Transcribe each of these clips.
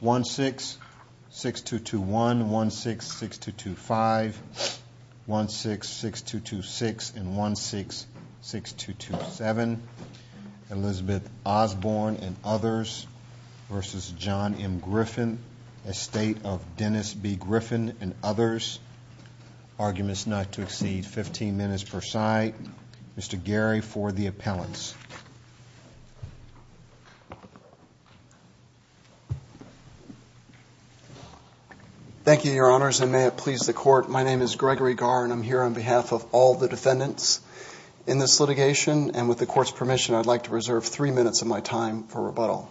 166226 and 166227 Elizabeth Osborn and others v. John M. Griffin, estate of Dennis B. Griffin and others. Arguments not to exceed 15 minutes per side. Mr. Gary for the appellants. Thank you your honors and may it please the court my name is Gregory Gar and I'm here on behalf of all the defendants in this litigation and with the court's permission I'd like to reserve three minutes of my time for the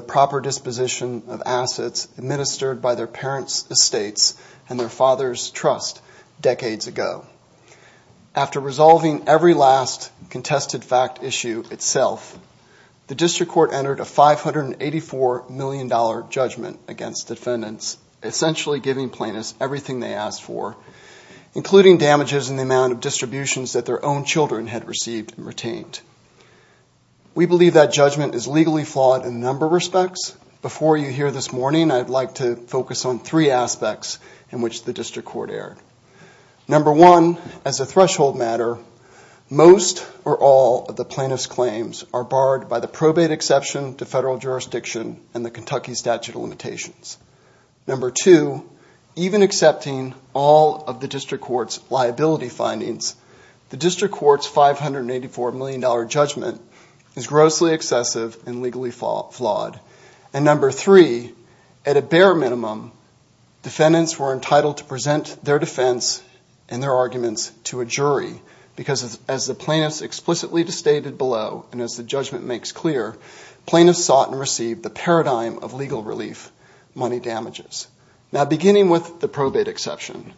proper disposition of assets administered by their parents estates and their father's trust decades ago. After resolving every last contested fact issue itself the district court entered a 584 million dollar judgment against defendants essentially giving plaintiffs everything they asked for including damages in the amount of distributions that their own children had received and retained. We believe that judgment is legally flawed in a number of respects. Before you hear this morning I'd like to focus on three aspects in which the district court erred. Number one as a threshold matter most or all of the plaintiffs claims are barred by the probate exception to federal jurisdiction and the Kentucky statute of limitations. Number two even accepting all of the district court's liability findings the district court's 584 million dollar judgment is grossly excessive and legally flawed and number three at a bare minimum defendants were entitled to present their defense and their arguments to a jury because as the plaintiffs explicitly stated below and as the judgment makes clear plaintiffs sought and received the paradigm of legal relief money damages. Now beginning with the probate exception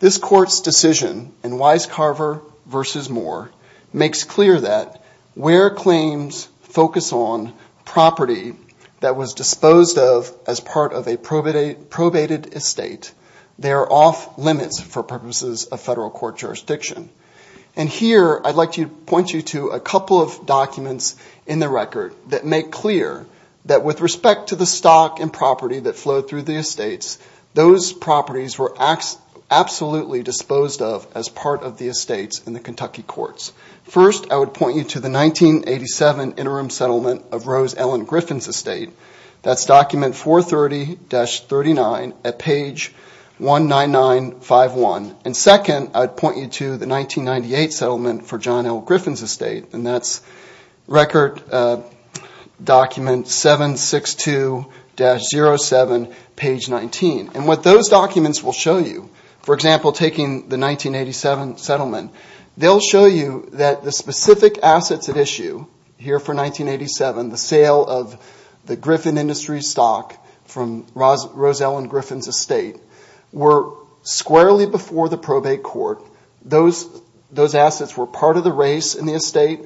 this court's decision in Wise Carver versus Moore makes clear that where claims focus on property that was disposed of as part of a probated estate they are off limits for purposes of federal court jurisdiction and here I'd like to point you to a couple of documents in the record that make clear that with respect to the stock and property that flow properties were absolutely disposed of as part of the estates in the Kentucky courts. First I would point you to the 1987 interim settlement of Rose Ellen Griffin's estate that's document 430-39 at page 19951 and second I'd point you to the 1998 settlement for John L. Griffin's estate and that's record document 762-07 page 19 and what those documents will show you for example taking the 1987 settlement they'll show you that the specific assets at issue here for 1987 the sale of the Griffin Industries stock from Rose Ellen Griffin's estate were squarely before the probate court. Those assets were part of the race in the estate.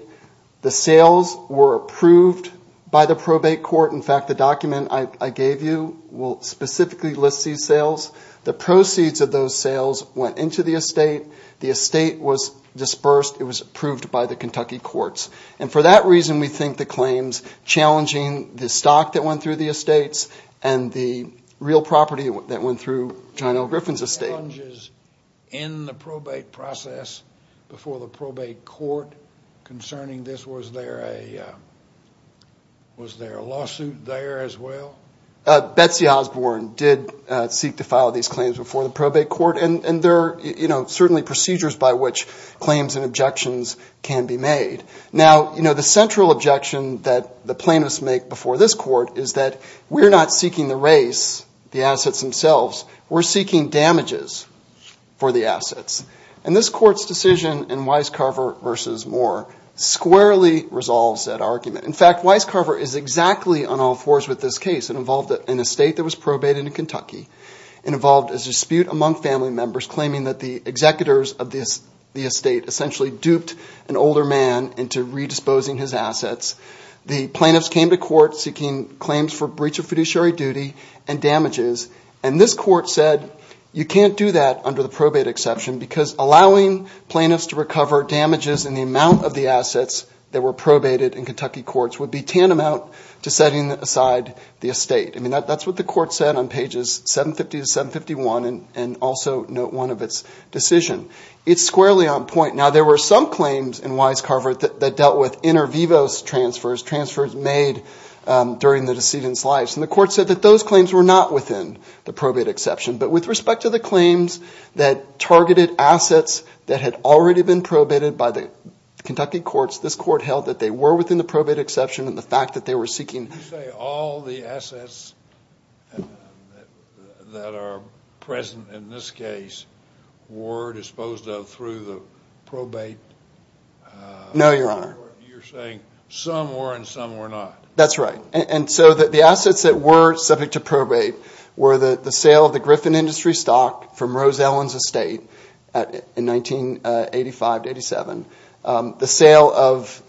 The sales were approved by the probate court. In fact the document I gave you will specifically list these sales. The proceeds of those sales went into the estate. The estate was dispersed. It was approved by the Kentucky courts and for that reason we think the claims challenging the stock that went through the estates and the real property that went through John L. Griffin's estate. In the probate process before the probate court concerning this was there a was there a lawsuit there as well? Betsy Osborne did seek to file these claims before the probate court and there are certainly procedures by which claims and objections can be made. Now the central objection that the plaintiffs make before this court is that we're not seeking the race, the assets themselves, we're seeking damages for the assets. And this court's decision in Weiscarver v. Moore squarely resolves that argument. In fact Weiscarver is exactly on all fours with this case. It involved an estate that was probated in Kentucky. It involved a dispute among family members claiming that the executors of the estate essentially duped an older man into redisposing his assets. The plaintiffs came to court seeking claims for breach of fiduciary duty and damages and this court said you can't do that under the probate exception because allowing plaintiffs to recover damages in the amount of the assets that were probated in Kentucky courts would be tantamount to setting aside the estate. I mean that that's what the court said on pages 750 to 751 and also note one of its decision. It's squarely on point. Now there were some claims in Weiscarver that dealt with inter vivos transfers, transfers made during the decedent's life and the court said that those claims were not within the probate exception. But with respect to the claims that targeted assets that had already been probated by the Kentucky courts, this court held that they were within the probate exception and the fact that they were seeking. You say all the assets that are present in this case were disposed of through the probate? No your honor. You're saying some were and some were not. That's right and so that the assets that were subject to probate were the sale of the Griffin industry stock from Rose Ellen's estate in 1985 to 87. The sale of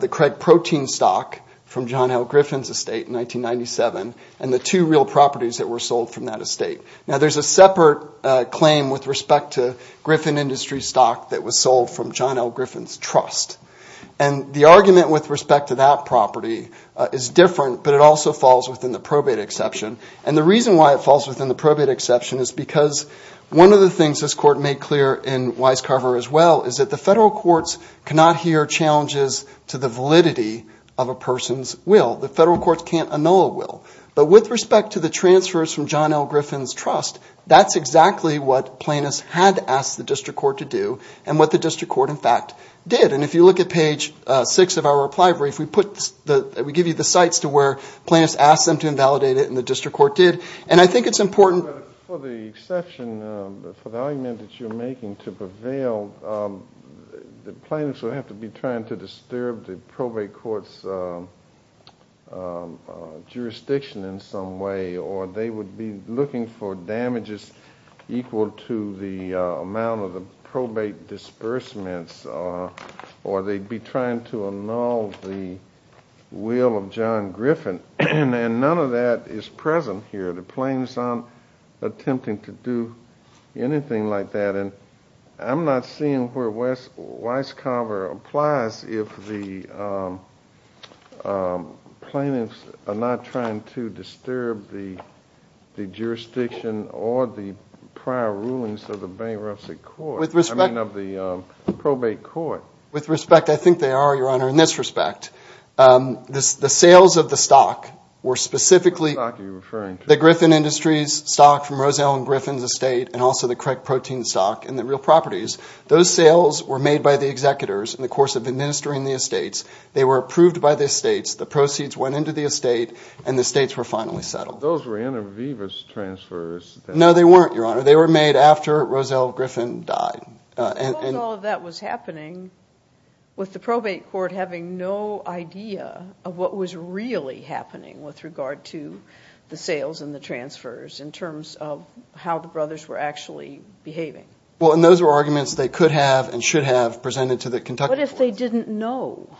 the Craig protein stock from John L. Griffin's estate in 1997 and the two real properties that were sold from that estate. Now there's a separate claim with respect to Griffin industry stock that was sold from John L. Griffin's trust and the argument with respect to that property is different but it also falls within the probate exception and the reason why it falls within the probate exception is because one of the things this court made clear in Weiscarver as well is that the federal courts cannot hear challenges to the validity of a person's will. The federal transfers from John L. Griffin's trust, that's exactly what plaintiffs had to ask the district court to do and what the district court in fact did and if you look at page six of our reply brief we put the we give you the sites to where plaintiffs asked them to invalidate it and the district court did and I think it's important for the exception for the argument that you're making to prevail the plaintiffs will have to be trying to disturb the probate courts jurisdiction in some way or they would be looking for damages equal to the amount of the probate disbursements or they'd be trying to annul the will of John Griffin and then none of that is present here. The plaintiffs aren't attempting to do anything like that and I'm not seeing where Weiscarver applies if the plaintiffs are not trying to disturb the the jurisdiction or the prior rulings of the bankruptcy court, I mean of the probate court. With respect I think they are your honor in this respect the sales of the stock were specifically the Griffin Industries stock from Roselle and Griffin's estate and also the Craig protein stock and the real properties those sales were made by the executors in the course of administering the estates they were approved by the states the proceeds went into the estate and the states were finally settled. Those were inter vivis transfers. No they weren't your honor they were made after Roselle Griffin died. All of that was happening with the probate court having no idea of what was really happening with regard to the sales and the transfers in terms of how the brothers were actually behaving. Well and those were arguments they could have and should have presented to the Kentucky. What if they didn't know?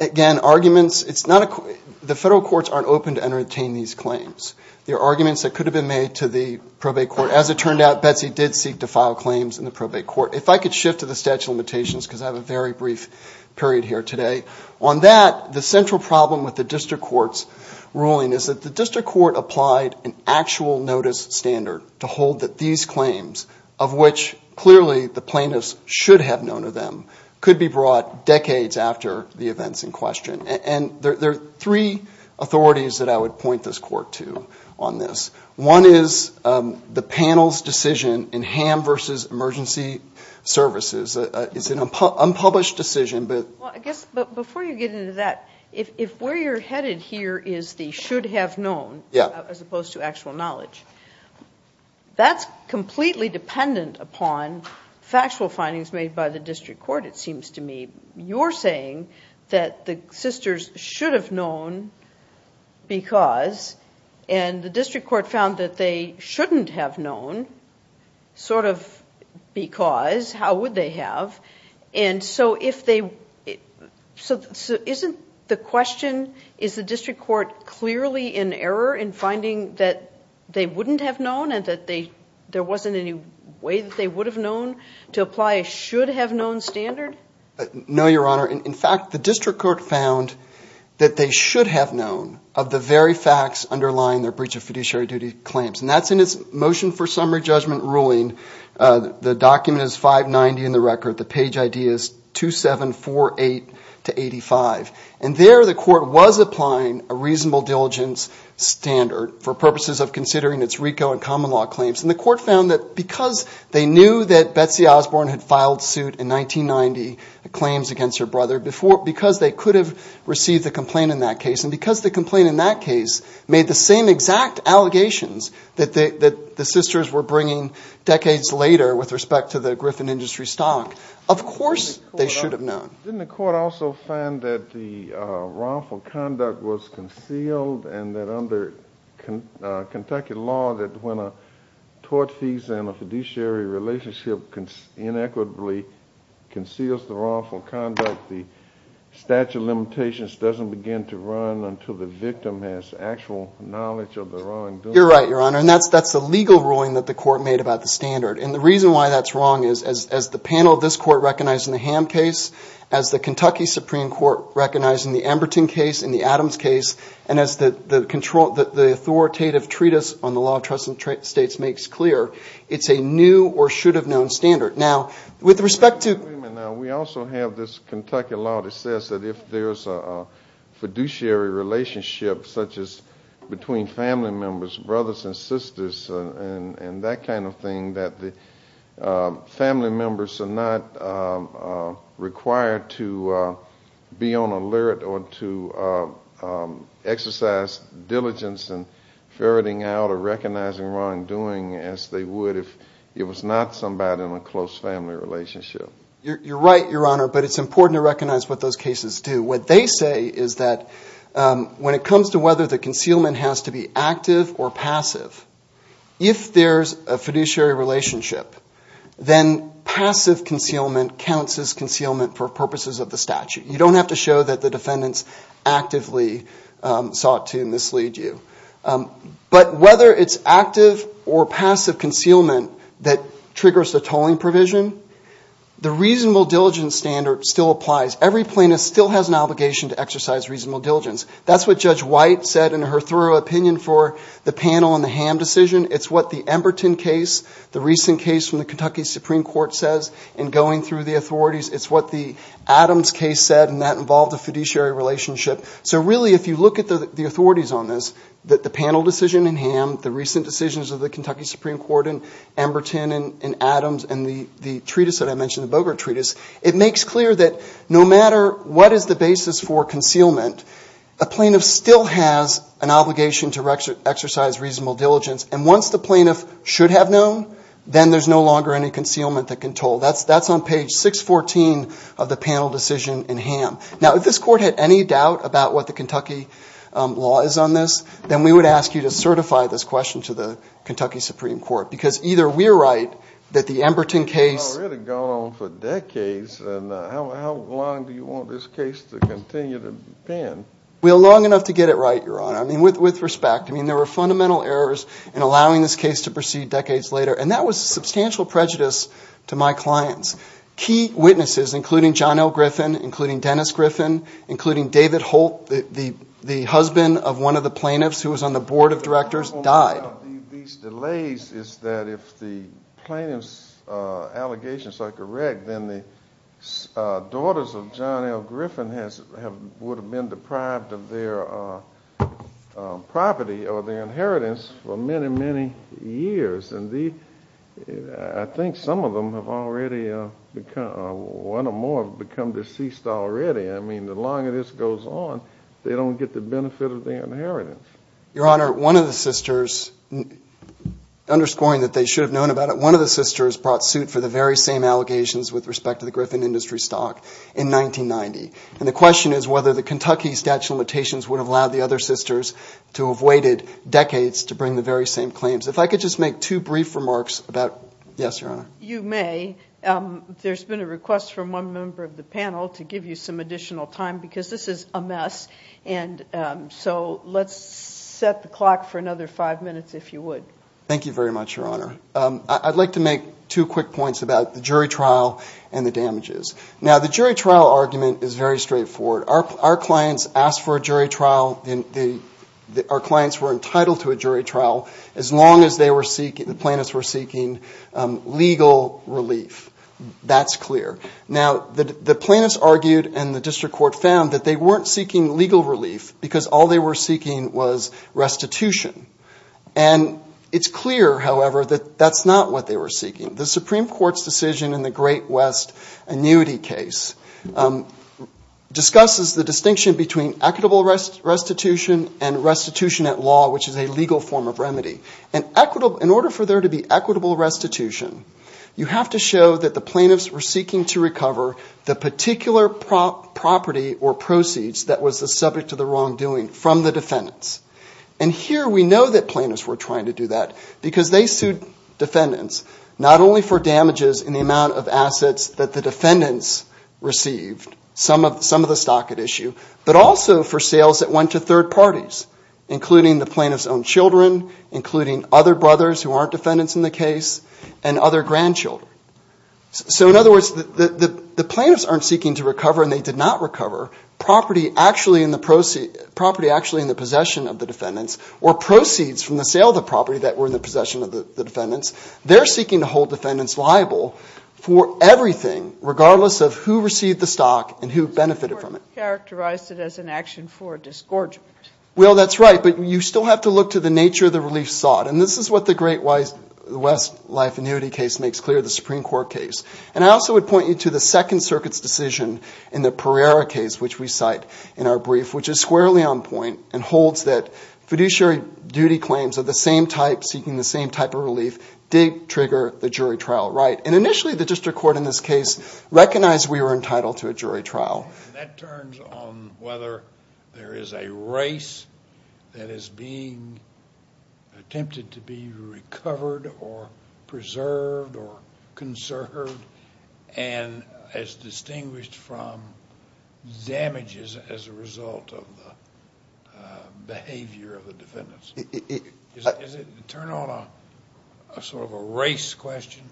Again arguments it's not a the federal courts aren't open to entertain these claims. There are arguments that could have been made to the probate court as it turned out Betsy did seek to file claims in the probate court. If I could shift to the statute of limitations because I have a very brief period here today on that the central problem with the district courts ruling is that the district court applied an actual notice standard to hold that these claims of which clearly the plaintiffs should have known of them could be brought decades after the events in question and there are three authorities that I would point this court to on this. One is the panel's decision in ham versus emergency services. It's an unpublished decision but I guess but before you get into that if where you're headed here is the should have known yeah as opposed to actual knowledge that's completely dependent upon factual findings made by the district court it seems to me you're saying that the sisters should have known because and the district court found that they shouldn't have known sort of because how would they have and so if they so isn't the question is the district court clearly in error in finding that they wouldn't have known and that they there wasn't any way that they would have known to apply a should have known standard no your honor in fact the district court found that they should have known of the very facts underlying their breach of fiduciary duty claims and that's in his motion for summary judgment ruling the document is 590 in the record the page ideas 2748 to 85 and there the court was applying a reasonable diligence standard for purposes of considering its Rico and common law claims in the court found that because they knew that Betsy Osborne had filed suit in 1990 claims against her brother before because they could have received a complaint in that case and because the complaint in that case made the same exact allegations that the sisters were bringing decades later with respect to the Griffin industry stock of course they should have known in the court also found that the wrongful conduct was concealed and that under Kentucky law that when a tort fees and a fiduciary relationship can inequitably conceals the wrongful conduct the statute limitations doesn't begin to run until the victim has actual knowledge of the wrong you're right your honor and that's that's the legal ruling that the court made about the standard and the reason why that's wrong is as the panel of this court recognizing the ham case as the Kentucky Supreme Court recognizing the Emberton case in the Adams case and as the control that the authoritative treatise on the law of trust and trade states makes clear it's a new or should have known standard now with respect to we also have this Kentucky law that says that if there's a fiduciary relationship such as between family members brothers and sisters and and that kind of thing that the family members are not required to be on alert or to exercise diligence and ferreting out or recognizing wrongdoing as they would if it was not somebody in a close family relationship you're right your honor but it's important to recognize what those cases do what they say is that when it comes to whether the concealment has to be active or passive if there's a fiduciary relationship then passive concealment counts as concealment for purposes of the statute you don't have to show that the defendants actively sought to mislead you but whether it's active or passive concealment that triggers the tolling provision the reasonable diligence standard still applies every plaintiff still has an obligation to exercise reasonable diligence that's what judge white said in her thorough opinion for the panel on the ham decision it's what the Emberton case the recent case from the Kentucky Supreme Court says and going through the authorities it's what the Adams case said and that involved a fiduciary relationship so really if you look at the authorities on this that the panel decision in ham the recent decisions of the Kentucky Supreme Court and Emberton and Adams and the the treatise that I mentioned the Bogart treatise it makes clear that no matter what is the basis for concealment a plaintiff still has an obligation to exercise reasonable diligence and once the plaintiff should have known then there's no longer any concealment that can toll that's that's on page 614 of the panel decision in ham now if this court had any doubt about what the Kentucky law is on this then we would ask you to certify this question to the Kentucky Supreme Court because either we're right that the Emberton case well long enough to get it right your honor I mean with with respect I mean there were fundamental errors in allowing this case to proceed decades later and that was substantial prejudice to my clients key witnesses including John L Griffin including Dennis Griffin including David Holt the the the husband of one of the plaintiffs who was on the board of directors died these delays is that if the plaintiffs allegations are correct then the daughters of John L Griffin has have would have been deprived of their property or their inheritance for many many years and the I think some of them have already become one or more have become deceased already I mean the longer this goes on they don't get the benefit of their inheritance your honor one of the sisters underscoring that they should have known about it one of the sisters brought suit for the very same allegations with respect to the Griffin industry stock in 1990 and the question is whether the Kentucky statute limitations would have allowed the other sisters to have waited decades to bring the very same claims if I could just make two brief remarks about yes your honor you may there's been a request from one member of the panel to give you some additional time because this is a mess and so let's set the clock for another five minutes if you would thank you very much your honor I'd like to make two quick points about the jury trial and the damages now the jury trial argument is very straightforward our clients asked for a jury trial in the our clients were entitled to a jury trial as long as they were seeking the plaintiffs argued and the district court found that they weren't seeking legal relief because all they were seeking was restitution and it's clear however that that's not what they were seeking the Supreme Court's decision in the Great West annuity case discusses the distinction between equitable rest restitution and restitution at law which is a legal form of remedy and equitable in order for there to be equitable restitution you have to show that the particular property or proceeds that was the subject of the wrongdoing from the defendants and here we know that plaintiffs were trying to do that because they sued defendants not only for damages in the amount of assets that the defendants received some of some of the stock at issue but also for sales that went to third parties including the plaintiffs own children including other brothers who aren't defendants in the case and other grandchildren so in other words that the plaintiffs aren't seeking to recover and they did not recover property actually in the process property actually in the possession of the defendants or proceeds from the sale the property that were in the possession of the defendants they're seeking to hold defendants liable for everything regardless of who received the stock and who benefited from it characterized it as an action for disgorgement well that's right but you still have to look to the nature of the relief sought and this is what the great wise the West life annuity case makes clear the Supreme Court case and I would point you to the Second Circuit's decision in the Pereira case which we cite in our brief which is squarely on point and holds that fiduciary duty claims of the same type seeking the same type of relief did trigger the jury trial right and initially the district court in this case recognize we were entitled to a jury trial that turns on whether there is a race that is being attempted to be recovered or preserved or conserved and as distinguished from damages as a result of the behavior of the defendants it is it turn on a sort of a race question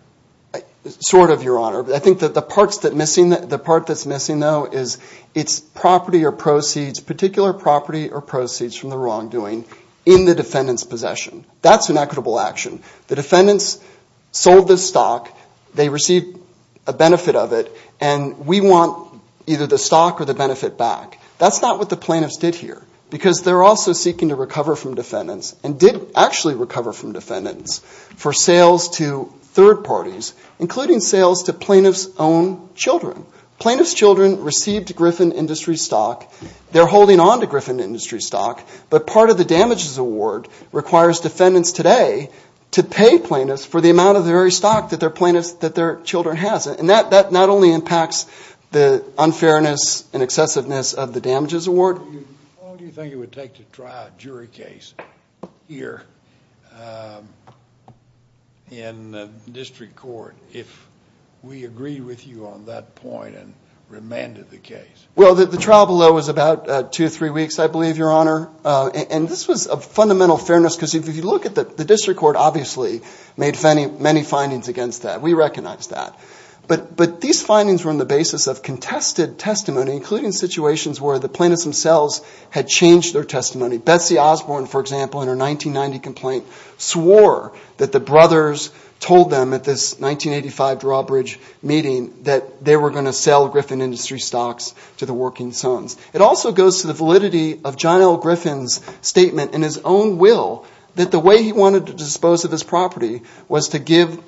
I sort of your honor but I think that the parts that missing that the part that's it's property or proceeds particular property or proceeds from the wrongdoing in the defendant's possession that's an equitable action the defendants sold the stock they received a benefit of it and we want either the stock or the benefit back that's not what the plaintiffs did here because they're also seeking to recover from defendants and did actually recover from defendants for sales to third parties including sales to plaintiffs own children plaintiffs children received Griffin industry stock they're holding on to Griffin industry stock but part of the damages award requires defendants today to pay plaintiffs for the amount of the very stock that their plaintiffs that their children has it and that that not only impacts the unfairness and excessiveness of the damages award you think it would take to try a jury case here in the case well that the trial below was about two or three weeks I believe your honor and this was a fundamental fairness because if you look at that the district court obviously made funny many findings against that we recognize that but but these findings were in the basis of contested testimony including situations where the plaintiffs themselves had changed their testimony Betsy Osborne for example in her 1990 complaint swore that the brothers told them at this 1985 drawbridge meeting that they were going to sell Griffin industry stocks to the working sons it also goes to the validity of John L. Griffin's statement in his own will that the way he wanted to dispose of his property was to give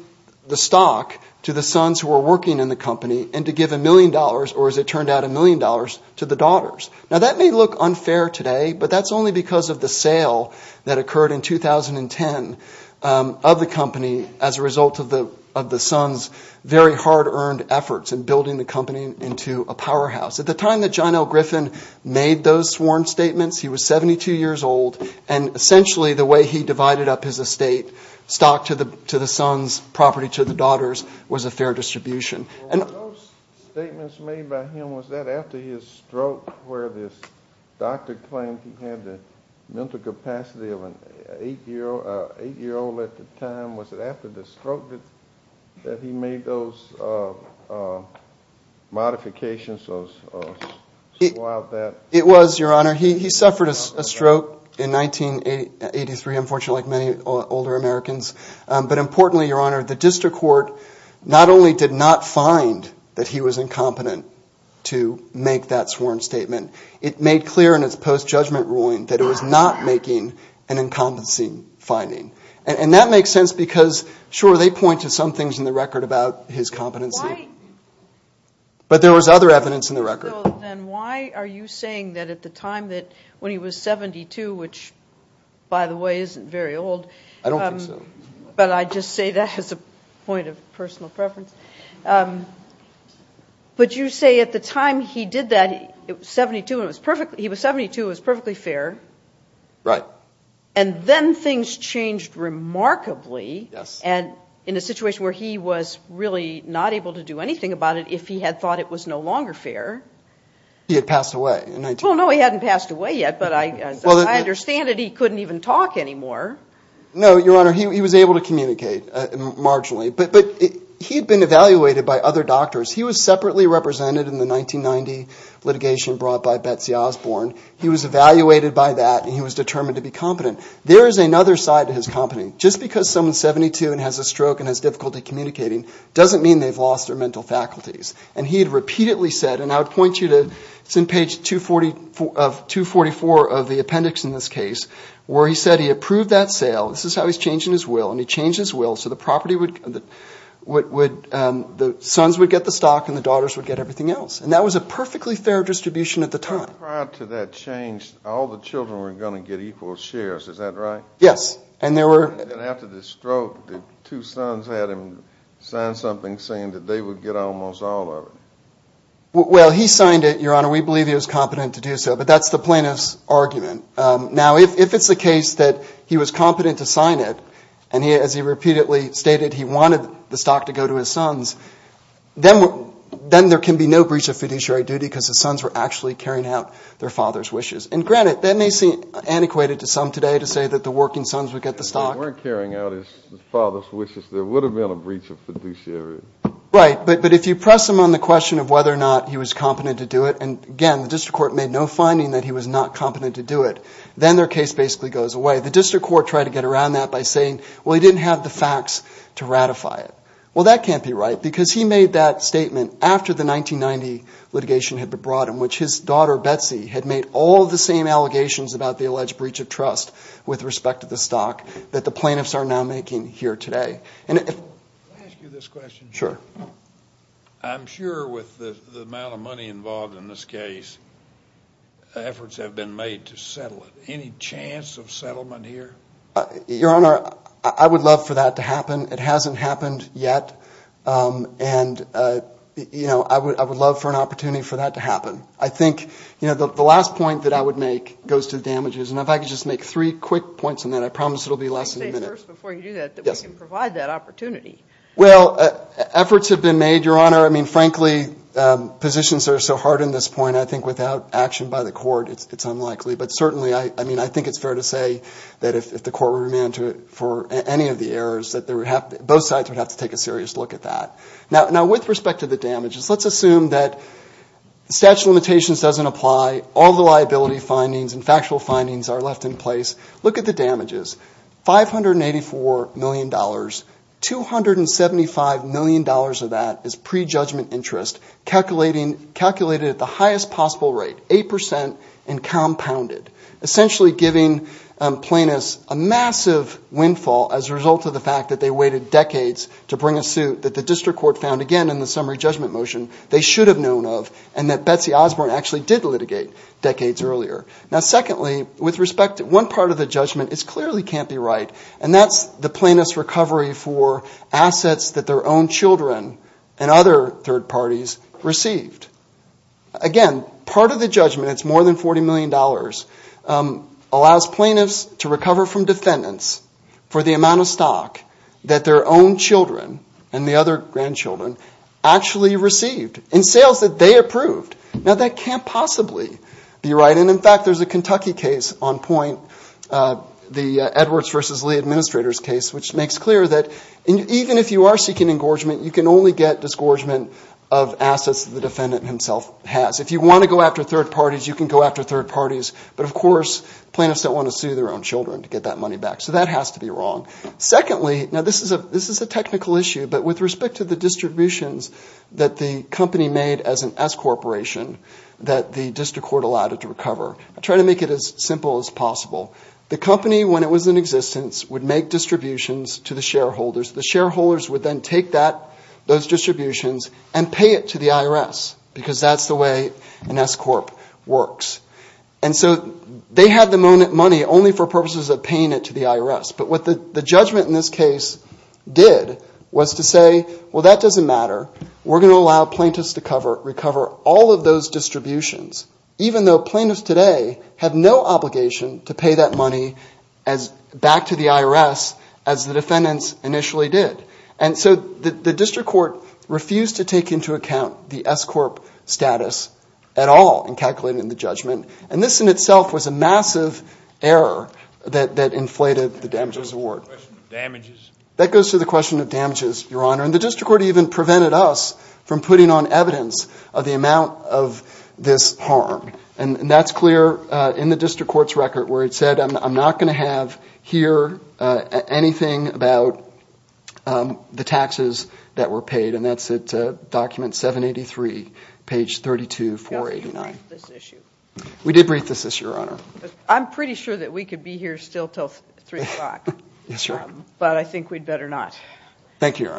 the stock to the sons who are working in the company and to give a million dollars or as it turned out a million dollars to the daughters now that may look unfair today but that's only because of the sale that occurred in 2010 of the company as a result of the of the sons very hard-earned efforts in building the company into a powerhouse at the time that John L. Griffin made those sworn statements he was 72 years old and essentially the way he divided up his estate stock to the to the sons property to the daughters was a fair distribution and statements made by him was that after his stroke where this doctor claimed he had the mental capacity of an eight-year-old eight-year-old at the time was it after the stroke that he made those modifications of that it was your honor he suffered a stroke in 1983 unfortunately many older Americans but importantly your honor the district court not only did not find that he was incompetent to make that sworn statement it made clear in its post-judgment ruling that it was not making an incumbency finding and that makes sense because sure they point to some things in the record about his competency but there was other evidence in the record why are you saying that at the time that when he was 72 which by the way isn't very old but I just say that has a point of personal preference but you say at the time he did that it was 72 it was perfectly he was 72 is perfectly fair right and then things changed remarkably yes and in a situation where he was really not able to do anything about it if he had thought it was no longer fair he had passed away and I don't know he hadn't passed away yet but I understand it he couldn't even talk anymore no your honor he was able to communicate marginally but but he'd been evaluated by other doctors he was separately represented in the 1990 litigation brought by Betsy Osborne he was evaluated by that and he was determined to be competent there is another side to his company just because someone 72 and has a stroke and has difficulty communicating doesn't mean they've lost their mental faculties and he had repeatedly said and I would point you to it's in page 240 of 244 of the appendix in this case where he said he approved that sale this is how he's changing his will and he changed his will so the property would what would the sons would get the stock and the daughters would get everything else and that was a perfectly fair distribution at the time prior to that changed all the children were going to get equal shares is that right yes and there were two sons had him sign something saying that they would get almost all of it well he signed it your honor we believe he was competent to do so but that's the plaintiffs argument now if it's the case that he was competent to sign it and he as he repeatedly stated he wanted the stock to go to his sons then then there can be no breach of fiduciary duty because the sons were actually carrying out their father's wishes and granted then they see antiquated to some today to say that the working sons would get the stock weren't carrying out his father's wishes there would have been a breach of fiduciary right but but if you press him on the question of whether or not he was competent to do it and again the district court made no finding that he was not competent to do it then their case basically goes away the district court tried to get around that by saying well he didn't have the facts to ratify it well that can't be right because he made that statement after the 1990 litigation had been brought in which his daughter Betsy had made all the same allegations about the alleged breach of with respect to the stock that the plaintiffs are now making here today and if you this question sure I'm sure with the amount of money involved in this case efforts have been made to settle any chance of settlement here your honor I would love for that to happen it hasn't happened yet and you know I would I would love for an opportunity for that to happen I think you know the last point that I would make goes to the damages and if I could just make three quick points and then I promise it'll be less than a minute yes provide that opportunity well efforts have been made your honor I mean frankly positions are so hard in this point I think without action by the court it's unlikely but certainly I mean I think it's fair to say that if the court were meant for any of the errors that there would have both sides would have to take a serious look at that now now with respect to the damages let's assume that the statute of limitations doesn't apply all the liability findings and factual findings are left in place look at the damages five hundred and eighty four million dollars two hundred and seventy five million dollars of that is pre-judgment interest calculating calculated at the highest possible rate eight percent and compounded essentially giving plaintiffs a massive windfall as a result of the fact that they waited decades to bring a suit that the district court found again in the summary judgment motion they should have known of and that Betsy Osborne actually did litigate decades earlier now secondly with respect to one part of the judgment is clearly can't be right and that's the plaintiffs recovery for assets that their own children and other third parties received again part of the judgment it's more than forty million dollars allows plaintiffs to recover from defendants for the amount of stock that their own children and the other grandchildren actually received in sales that they approved now that can't possibly be right and in fact there's a Kentucky case on point the Edwards vs. Lee administrators case which makes clear that even if you are seeking engorgement you can only get disgorgement of assets the defendant himself has if you want to go after third parties you can go after third parties but of course plaintiffs don't want to sue their own children to get that money back so that has to be wrong secondly now this is a this is a technical issue but with respect to the as an S corporation that the district court allowed it to recover I try to make it as simple as possible the company when it was in existence would make distributions to the shareholders the shareholders would then take that those distributions and pay it to the IRS because that's the way an S Corp works and so they had the money only for purposes of paying it to the IRS but what the judgment in this case did was to say well that doesn't matter we're cover all of those distributions even though plaintiffs today have no obligation to pay that money as back to the IRS as the defendants initially did and so the district court refused to take into account the S Corp status at all in calculating the judgment and this in itself was a massive error that that inflated the damages award that goes to the question of damages your honor and the district court even prevented us from putting on evidence of the amount of this harm and that's clear in the district court's record where it said I'm not going to have here anything about the taxes that were paid and that's it document 783 page 32 for 89 we did breathe this is your honor I'm pretty sure that we could be here still till 3 o'clock but I think we'd better not thank you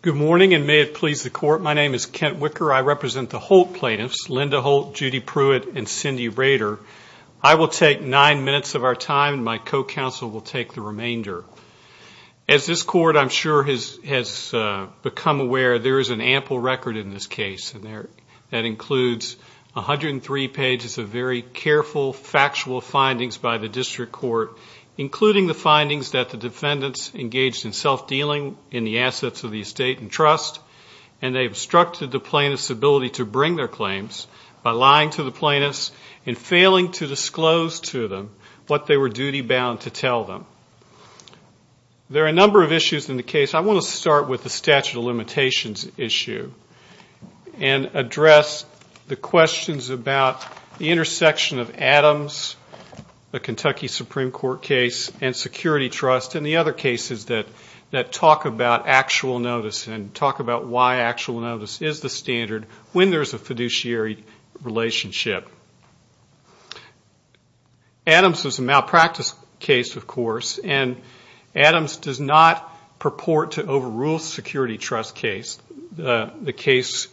good morning and may it please the court my name is Kent wicker I represent the whole plaintiffs Linda Holt Judy Pruitt and Cindy Rader I will take nine minutes of our time and my co-counsel will take the remainder as this court I'm sure has has become aware there is an ample record in this case and there that includes a hundred and three pages of very careful factual findings by the district court including the findings that the defendants engaged in self-dealing in the assets of the estate and trust and they obstructed the plaintiffs ability to bring their claims by lying to the plaintiffs and failing to disclose to them what they were duty-bound to tell them there are a number of issues in the case I want to start with the statute of limitations issue and address the questions about the intersection of Adams the Kentucky Supreme Court case and security trust and the other cases that that talk about actual notice and talk about why actual notice is the standard when there's a Adams is a malpractice case of course and Adams does not purport to overrule security trust case the case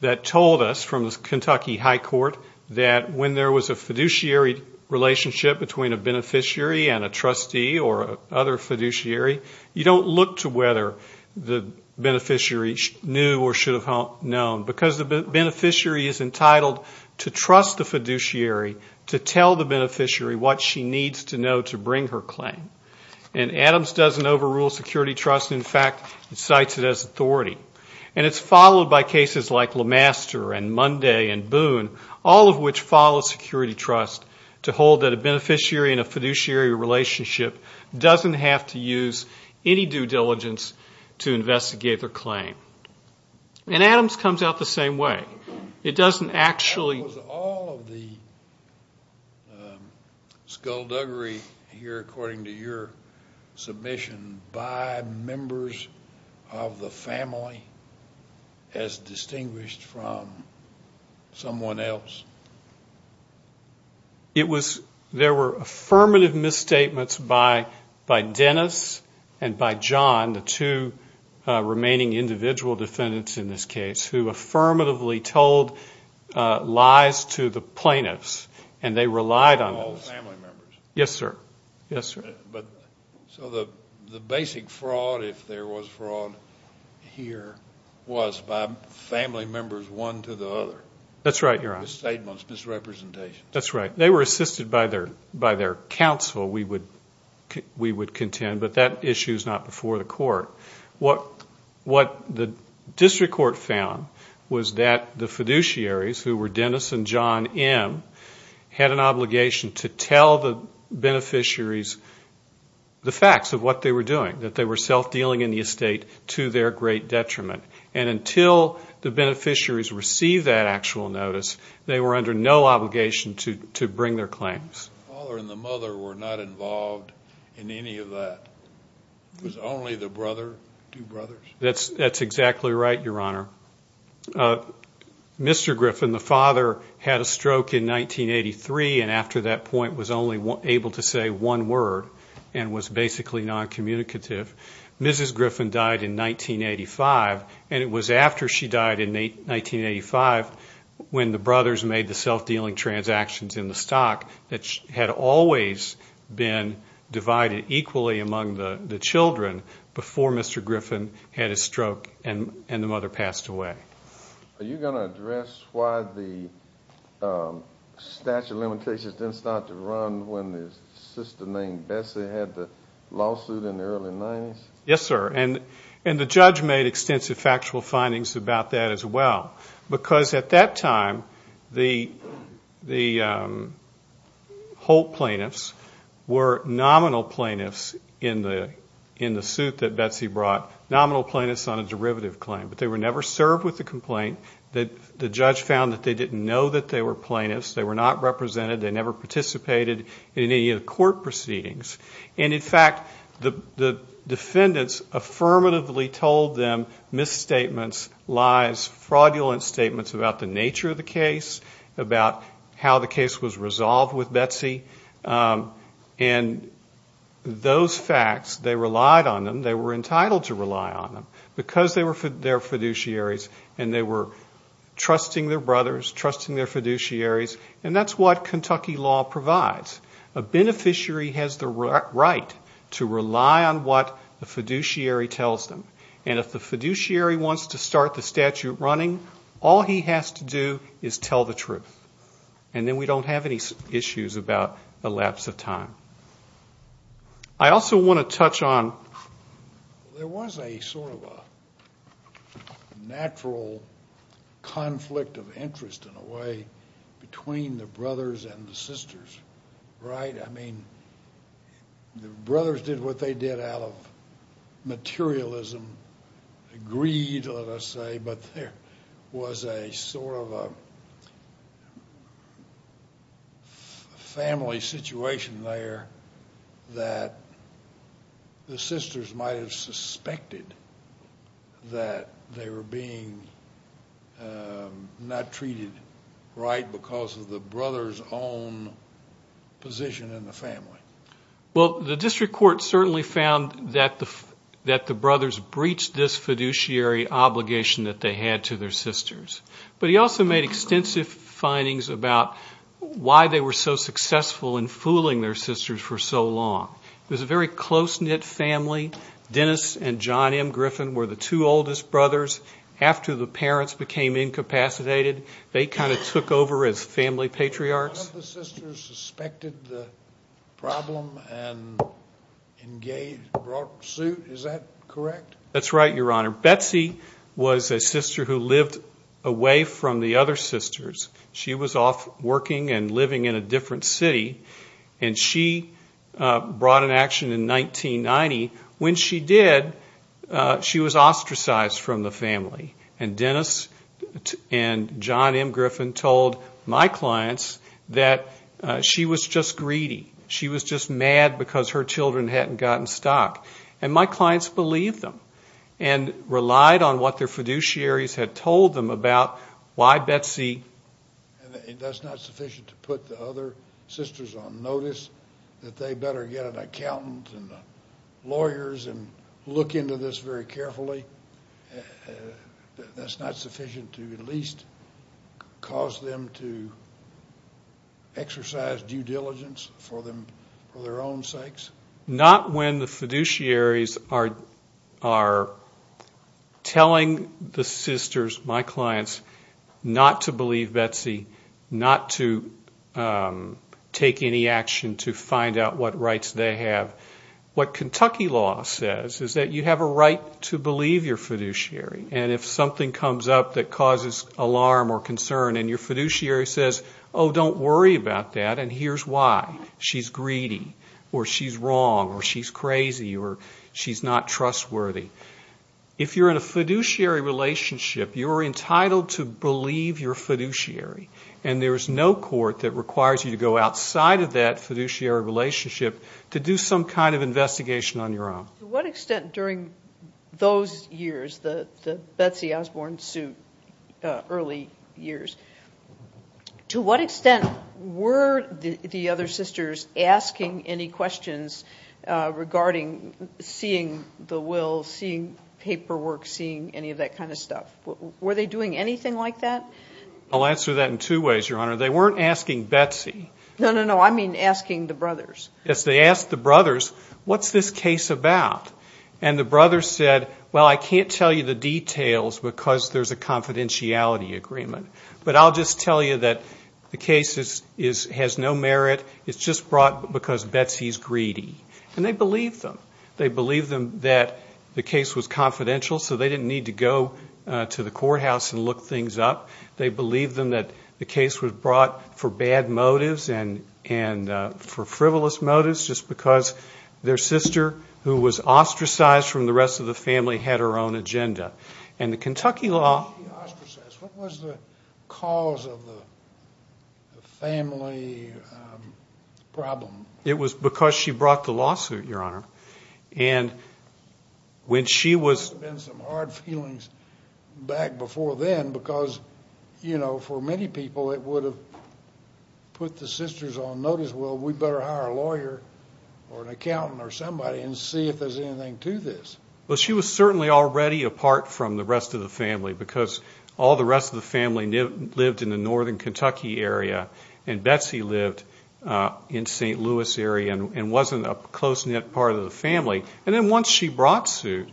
that told us from the Kentucky High Court that when there was a fiduciary relationship between a beneficiary and a trustee or other fiduciary you don't look to whether the beneficiary knew or should have known because the beneficiary is entitled to trust the fiduciary to tell the beneficiary what she needs to know to bring her claim and Adams doesn't overrule security trust in fact it cites it as authority and it's followed by cases like Lamaster and Monday and Boone all of which follow security trust to hold that a beneficiary in a fiduciary relationship doesn't have to use any due diligence to investigate their claim and Adams comes out the same way it doesn't actually all of the skullduggery here according to your submission by members of the family as distinguished from someone else it was there were affirmative misstatements by by Dennis and by John the two remaining individual defendants in this case who affirmatively told lies to the plaintiffs and they relied on all family members yes sir yes sir but so the the basic fraud if there was fraud here was by family members one to the other that's right you're on statements misrepresentation that's right they were assisted by their by their counsel we would we would contend but that issue is not before the court what what the district court found was that the fiduciaries who were Dennis and John M had an obligation to tell the beneficiaries the facts of what they were doing that they were self-dealing in the estate to their great detriment and until the beneficiaries receive that actual notice they were under no obligation to to bring their claims were not involved in any of that was only the brother brother that's that's exactly right your honor mr. Griffin the father had a stroke in 1983 and after that point was only one able to say one word and was basically non-communicative mrs. Griffin died in 1985 and it was after she died in a 1985 when the brothers made the self-dealing transactions in the stock that had always been divided equally among the the children before mr. Griffin had a stroke and and the mother passed away are you going to address why the statute limitations didn't start to run when the sister named Bessie had the lawsuit in yes sir and and the judge made extensive factual findings about that as well because at that time the the whole plaintiffs were nominal plaintiffs in the in the suit that Betsy brought nominal plaintiffs on a derivative claim but they were never served with the complaint that the judge found that they didn't know that they were plaintiffs they were not represented they never participated in any of the court proceedings and in fact the defendants affirmatively told them misstatements lies fraudulent statements about the nature of the case about how the case was resolved with Betsy and those facts they relied on them they were entitled to rely on them because they were for their fiduciaries and they were trusting their brothers trusting their fiduciaries and that's what Kentucky law provides a beneficiary has the right to rely on what the fiduciary tells them and if the fiduciary wants to start the statute running all he has to do is tell the truth and then we don't have any issues about the lapse of time I also want to touch on there was a sort of a natural conflict of interest in a way between the brothers and the sisters right I mean the brothers did what they did out of materialism greed let us say but there was a sort of a family situation there that the sisters might have suspected that they were being not treated right because of the brothers own position in the family well the district court certainly found that the that the brothers breached this fiduciary obligation that they had to their sisters but he also made extensive findings about why they were so successful in fooling their sisters for so long close-knit family Dennis and John M Griffin were the two oldest brothers after the parents became incapacitated they kind of took over as family patriarchs that's right your honor Betsy was a sister who lived away from the other in 1990 when she did she was ostracized from the family and Dennis and John M Griffin told my clients that she was just greedy she was just mad because her children hadn't gotten stock and my clients believe them and relied on what their fiduciaries had told them about why Betsy that's not sufficient to put the other sisters on notice that they better get an accountant and lawyers and look into this very carefully that's not sufficient to at least cause them to exercise due diligence for them for their own sakes not when the fiduciaries are are telling the sisters my clients not to believe Betsy not to take any action to find out what rights they have what Kentucky law says is that you have a right to believe your fiduciary and if something comes up that causes alarm or concern and your fiduciary says oh don't worry about that and here's why she's greedy or she's wrong or she's crazy or she's not trustworthy if you're in a fiduciary relationship you're to believe your fiduciary and there is no court that requires you to go outside of that fiduciary relationship to do some kind of investigation on your own what extent during those years the Betsy Osborne suit early years to what extent were the other sisters asking any questions regarding seeing the will seeing paperwork seeing any of that kind of stuff were they doing anything like that I'll answer that in two ways your honor they weren't asking Betsy no no no I mean asking the brothers yes they asked the brothers what's this case about and the brother said well I can't tell you the details because there's a confidentiality agreement but I'll just tell you that the case is is has no merit it's just brought because Betsy's greedy and they believe them they the case was confidential so they didn't need to go to the courthouse and look things up they believe them that the case was brought for bad motives and and for frivolous motives just because their sister who was ostracized from the rest of the family had her own agenda and the Kentucky law it was because she brought the lawsuit your honor and when she was in some hard feelings back before then because you know for many people it would have put the sisters on notice well we better hire a lawyer or an accountant or somebody and see if there's anything to this well she was certainly already apart from the rest of the family because all the rest of the family lived in the northern Kentucky area and Betsy lived in st. Louis area and wasn't a close-knit part of the family and then once she brought suit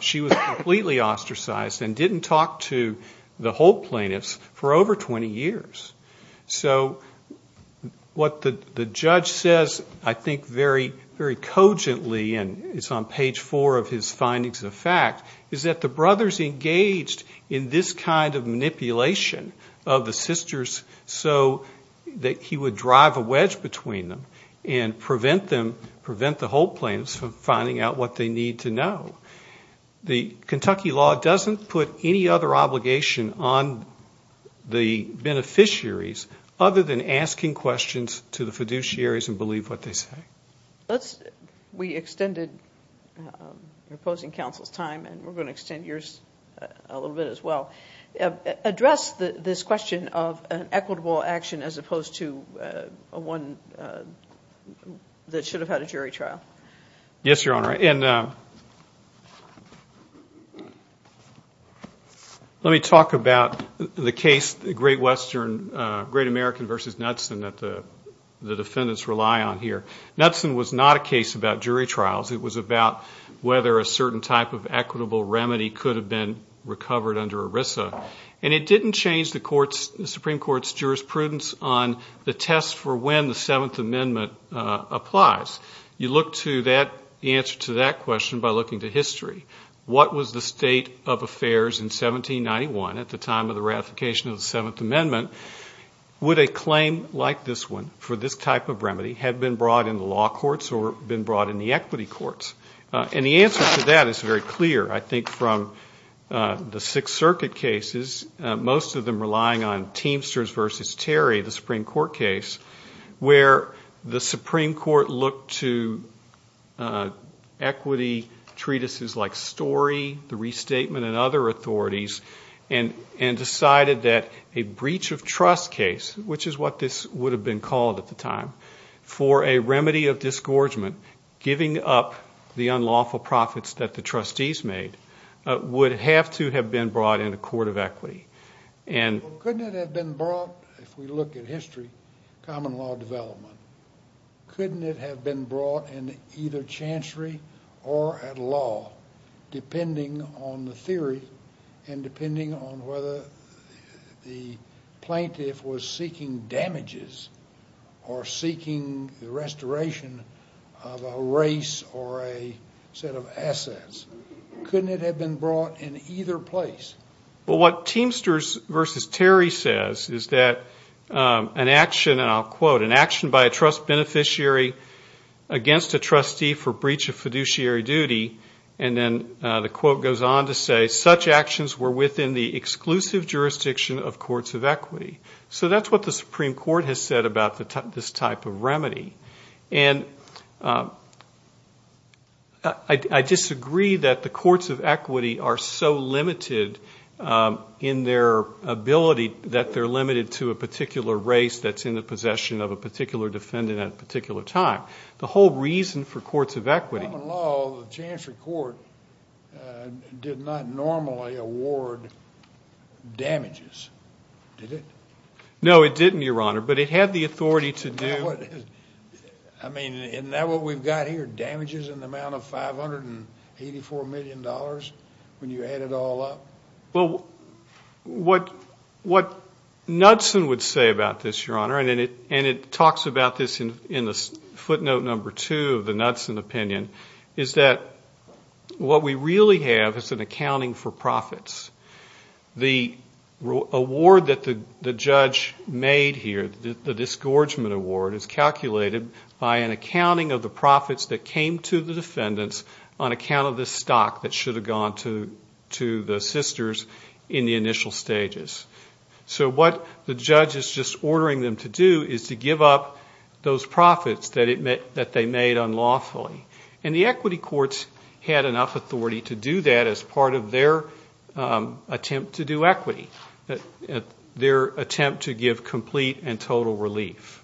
she was completely ostracized and didn't talk to the whole plaintiffs for over 20 years so what the judge says I think very very cogently and it's on page four of his findings of fact is that the brothers engaged in this kind of manipulation of the sisters so that he would drive a wedge between them and prevent them prevent the whole plaintiffs from finding out what they need to know the Kentucky law doesn't put any other obligation on the beneficiaries other than asking questions to the fiduciaries and believe what they say let's we extended opposing counsel's time and we're going to extend yours a little bit as well address this question of an equitable action as opposed to a one that should have had a jury trial yes your honor and let me talk about the case the great western great american versus nuts and that the the defendants rely on here that's not a case about jury trials it was about whether a certain type of equitable remedy could have been recovered under Arisa and it didn't change the court's supreme court's jurisprudence on the test for when the seventh amendment applies you look to that the answer to that question by looking to history what was the state of affairs in 1791 at the time of the ratification of the seventh amendment would a claim like this one for this type of remedy had been brought in the law courts or been brought in the equity courts and the answer to that is very clear I think from the Sixth Circuit cases most of them relying on teamsters versus Terry the Supreme Court case where the Supreme Court looked to equity treatises like story the restatement and other authorities and and decided that a breach of trust case which is what this would have been called at the time for a remedy of disgorgement giving up the unlawful profits that the trustees made would have to have been brought in a court of equity and look at history couldn't have been brought in either and depending on whether the plaintiff was seeking damages or seeking the restoration of a race or a set of assets couldn't it have been brought in either place well what teamsters versus Terry says is that an action and I'll quote an action by a trust beneficiary against a trustee for breach of fiduciary duty and then the quote goes on to say such actions were within the exclusive jurisdiction of courts of equity so that's what the Supreme Court has said about the type this type of remedy and I disagree that the courts of equity are so limited in their ability that they're limited to a particular race that's in the possession of a particular defendant at a particular time the whole reason for courts of equity did not normally award damages did it no it didn't your honor but it had the authority to do what I mean in that what we've got here damages in the amount of 584 million dollars when you add it all up well what what Knudsen would say about this your honor and in it and it talks about this in the footnote number two of the Knudsen opinion is that what we really have is an accounting for profits the award that the judge made here the disgorgement award is calculated by an accounting of the profits that came to the defendants on account of this stock that should have gone to to the sisters in the initial stages so what the judge is just ordering them to do is to give up those profits that it meant that they made unlawfully and the equity courts had enough authority to do that as part of their attempt to do equity that their attempt to give complete and total relief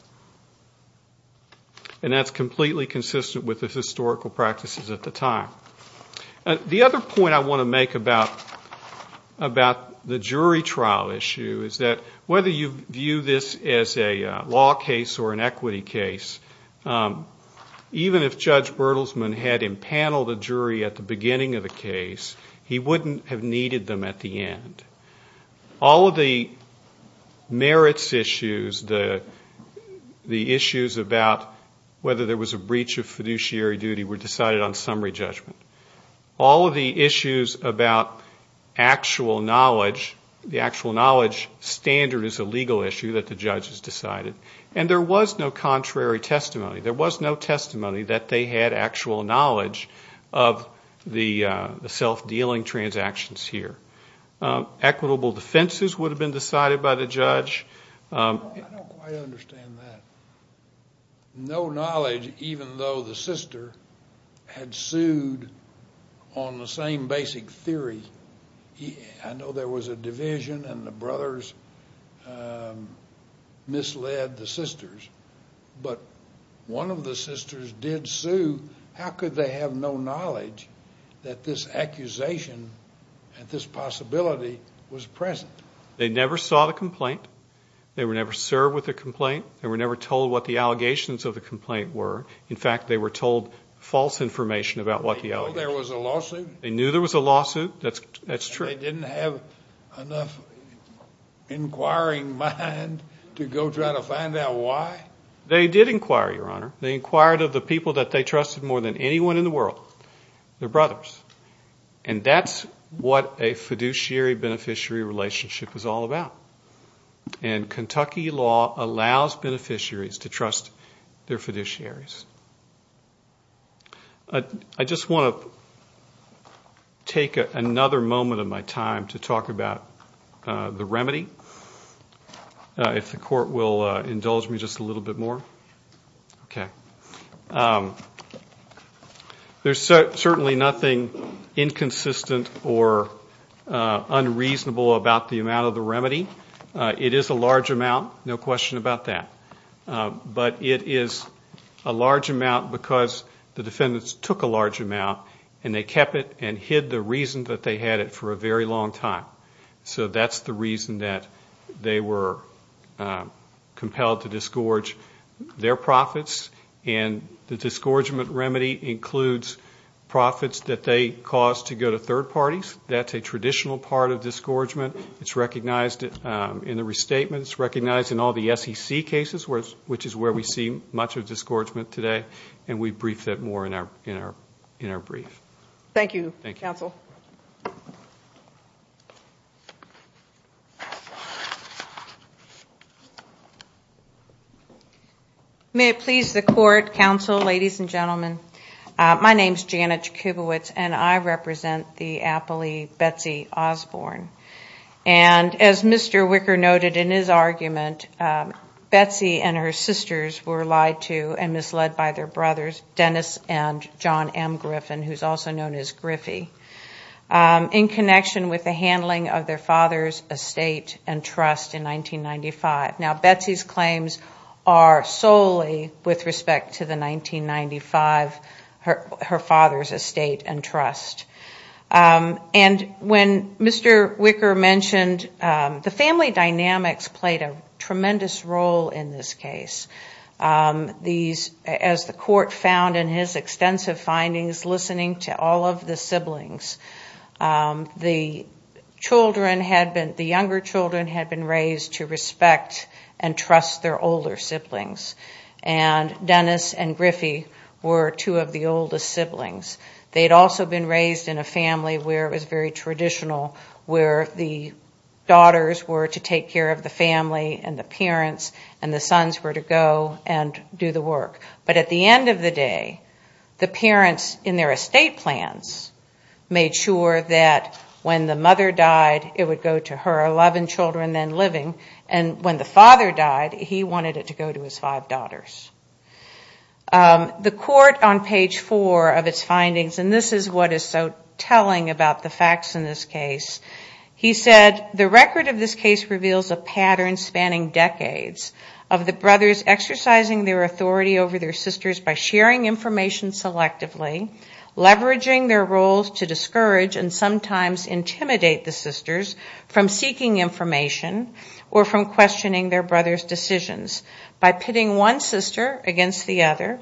and that's completely consistent with the historical practices at the time the other point I want to make about about the jury trial issue is that whether you view this as a law case or an equity case even if judge Bertelsman had in panel the jury at the beginning of the case he wouldn't have needed them at the end all of the merits issues the the issues about whether there was a breach of fiduciary duty were decided on summary judgment all of the issues about actual knowledge the actual knowledge standard is a legal issue that the judge has decided and there was no contrary testimony there was no testimony that they had actual knowledge of the self-dealing transactions here equitable defenses would have been decided by the judge no knowledge even though the sister had sued on the same basic theory I know there was a division and the brothers misled the sisters but one of the sisters did sue how could they have no knowledge that this accusation and this possibility was present they never saw the complaint they were never served with a complaint they were never told what the allegations of the complaint were in fact they were told false information about what the other there was a lawsuit they knew there was a mind to go try to find out why they did inquire your honor they inquired of the people that they trusted more than anyone in the world their brothers and that's what a fiduciary beneficiary relationship is all about and Kentucky law allows beneficiaries to trust their fiduciaries I just want to take another moment of my time to talk about the remedy if the court will indulge me just a little bit more okay there's certainly nothing inconsistent or unreasonable about the amount of the remedy it is a large amount no question about that but it is a large amount because the defendants took a large amount and they for a very long time so that's the reason that they were compelled to disgorge their profits and the disgorgement remedy includes profits that they caused to go to third parties that's a traditional part of disgorgement it's recognized in the restatement it's recognized in all the SEC cases whereas which is where we see much of disgorgement today and we brief it more in our in our in our brief thank you thank you counsel may it please the court counsel ladies and gentlemen my name is Janet Jacobowitz and I represent the Apple II Betsy Osborne and as mr. wicker noted in his argument Betsy and her sisters were lied to and misled by their brothers Dennis and John M Griffin who's also known as Griffey in connection with the handling of their father's estate and trust in 1995 now Betsy's claims are solely with respect to the 1995 her father's estate and trust and when mr. wicker mentioned the family dynamics played a tremendous role in this case these as the court found in his extensive findings listening to all of the siblings the children had been the younger children had been raised to respect and trust their older siblings and Dennis and Griffey were two of the oldest siblings they had also been raised in a family where it was very traditional where the daughters were to take care of the family and the parents and the sons were to go and do the work but at the end of the day the parents in their estate plans made sure that when the mother died it would go to her 11 children then living and when the father died he wanted it to go to his five daughters the court on page four of its findings and this is what is so telling about the facts in this case he said the record of this case reveals a pattern spanning decades of the brothers exercising their authority over their sisters by sharing information selectively leveraging their roles to discourage and sometimes intimidate the sisters from seeking information or from questioning their brothers decisions by pitting one sister against the other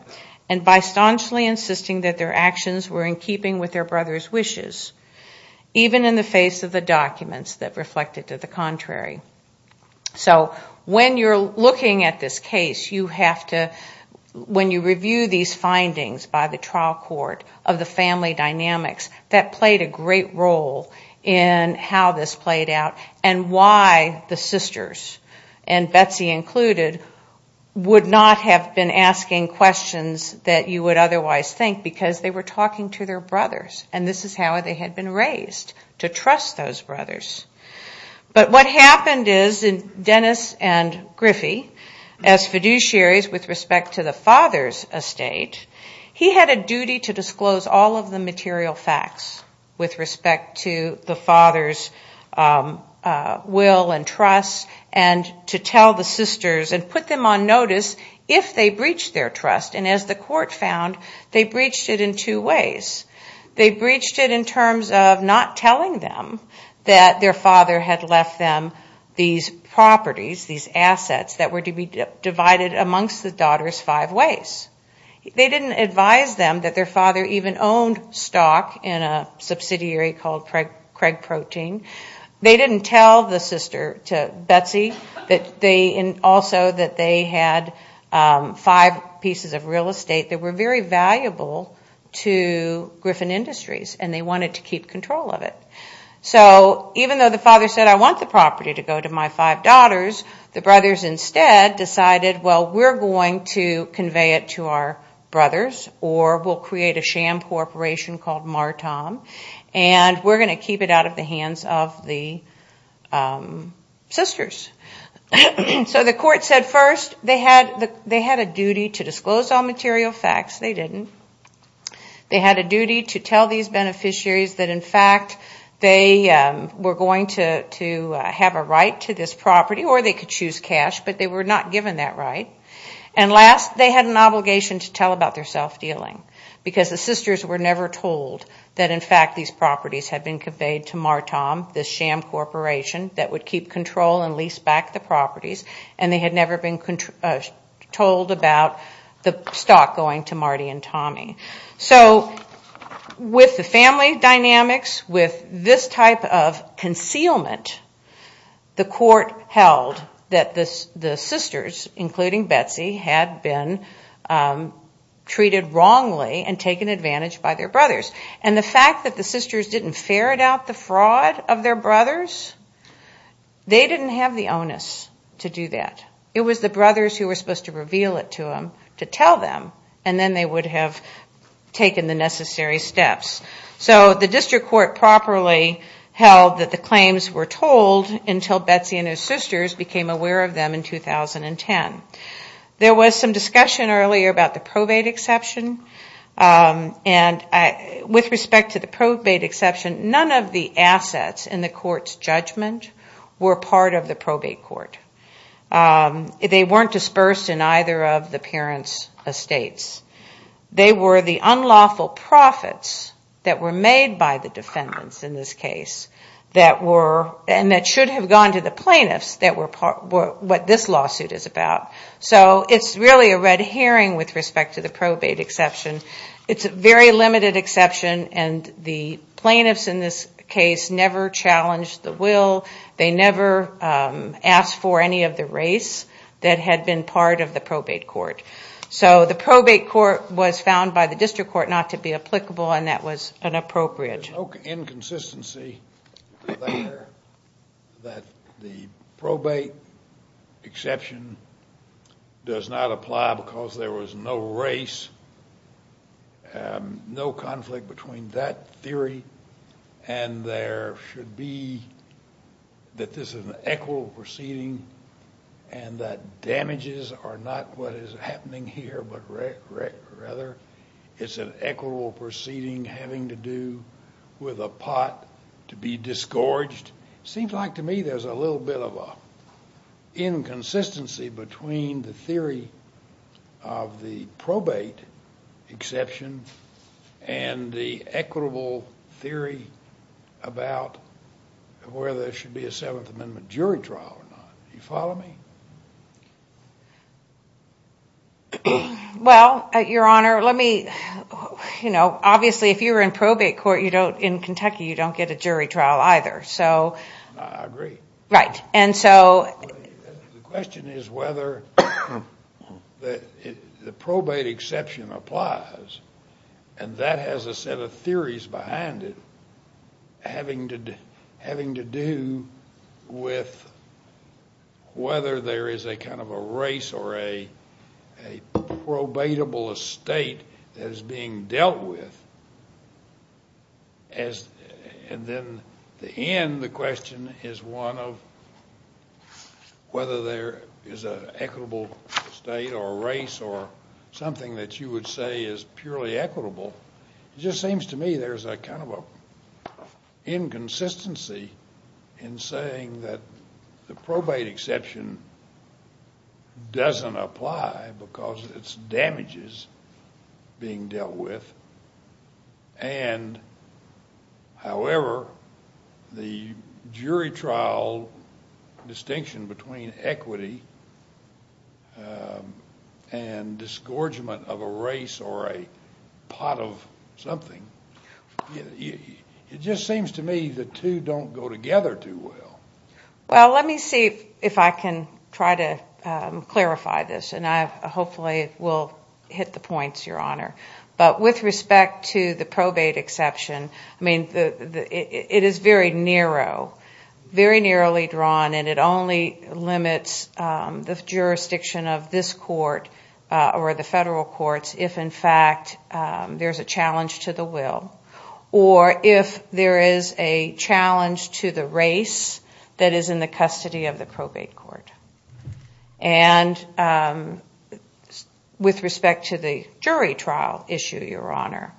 and by staunchly insisting that their actions were in keeping with their brothers wishes even in the face of the documents that reflected to the contrary so when you're looking at this case you have to when you review these findings by the trial court of the family dynamics that played a great role in how this played out and why the sisters and Betsy included would not have been asking questions that you would otherwise think because they were talking to their brothers and this is how they had been raised to trust those Dennis and Griffey as fiduciaries with respect to the father's estate he had a duty to disclose all of the material facts with respect to the father's will and trust and to tell the sisters and put them on notice if they breached their trust and as the court found they breached it in two ways they breached it in terms of not telling them that their father had left them these properties these assets that were to be divided amongst the daughters five ways they didn't advise them that their father even owned stock in a subsidiary called Craig protein they didn't tell the sister to Betsy that they also that they had five pieces of real estate that were very valuable to Griffin Industries and they wanted to keep control of it so even though the father said I want the property to go to my five daughters the brothers instead decided well we're going to convey it to our brothers or will create a sham corporation called Marta and we're going to keep it out of the hands of the sisters so the court said first they had they had a duty to disclose all material facts they didn't they had a duty to tell these beneficiaries that in fact they were going to to have a right to this property or they could choose cash but they were not given that right and last they had an obligation to tell about their self-dealing because the sisters were never told that in fact these properties have been conveyed to Marta this sham corporation that would keep control and lease back the properties and they had never been told about the stock going to Marty and Tommy so with the family dynamics with this type of concealment the court held that this the sisters including Betsy had been treated wrongly and taken advantage by their brothers and the fact that the sisters didn't ferret out the fraud of their brothers they didn't have the onus to do them and then they would have taken the necessary steps so the district court properly held that the claims were told until Betsy and her sisters became aware of them in 2010 there was some discussion earlier about the probate exception and I with respect to the probate exception none of the assets in the court's judgment were part of the probate court they weren't dispersed in either of the parents estates they were the unlawful profits that were made by the defendants in this case that were and that should have gone to the plaintiffs that were part what this lawsuit is about so it's really a red hearing with respect to the probate exception it's a very limited exception and the plaintiffs in this case never challenged the will they never asked for any of the race that had been part of the probate court so the probate court was found by the district court not to be applicable and that was an appropriate inconsistency the probate exception does not apply because there was no race no conflict between that theory and there should be that this is an equitable proceeding and that damages are not what is happening here but rather it's an equitable proceeding having to do with a pot to be disgorged seems like to me there's a little bit of a inconsistency between the theory of the probate exception and the equitable theory about where there should be a jury trial you follow me well your honor let me you know obviously if you were in probate court you don't in Kentucky you don't get a jury trial either so I agree right and so the question is whether the probate exception applies and that has a set of theories behind it having to do having to do with whether there is a kind of a race or a probatable estate that is being dealt with and then the end the question is one of whether there is a equitable state or race or something that you would say is purely equitable just seems to me there's a kind of a inconsistency in saying that the probate exception doesn't apply because it's damages being dealt with and however the jury trial distinction between equity and disgorgement of a race or a pot of something it just seems to me the two don't go together too well well let me see if I can try to clarify this and I hopefully will hit the points your honor but with respect to the probate exception I mean it is very narrow very narrowly drawn and it only limits the federal courts if in fact there's a challenge to the will or if there is a challenge to the race that is in the custody of the probate court and with respect to the jury trial issue your honor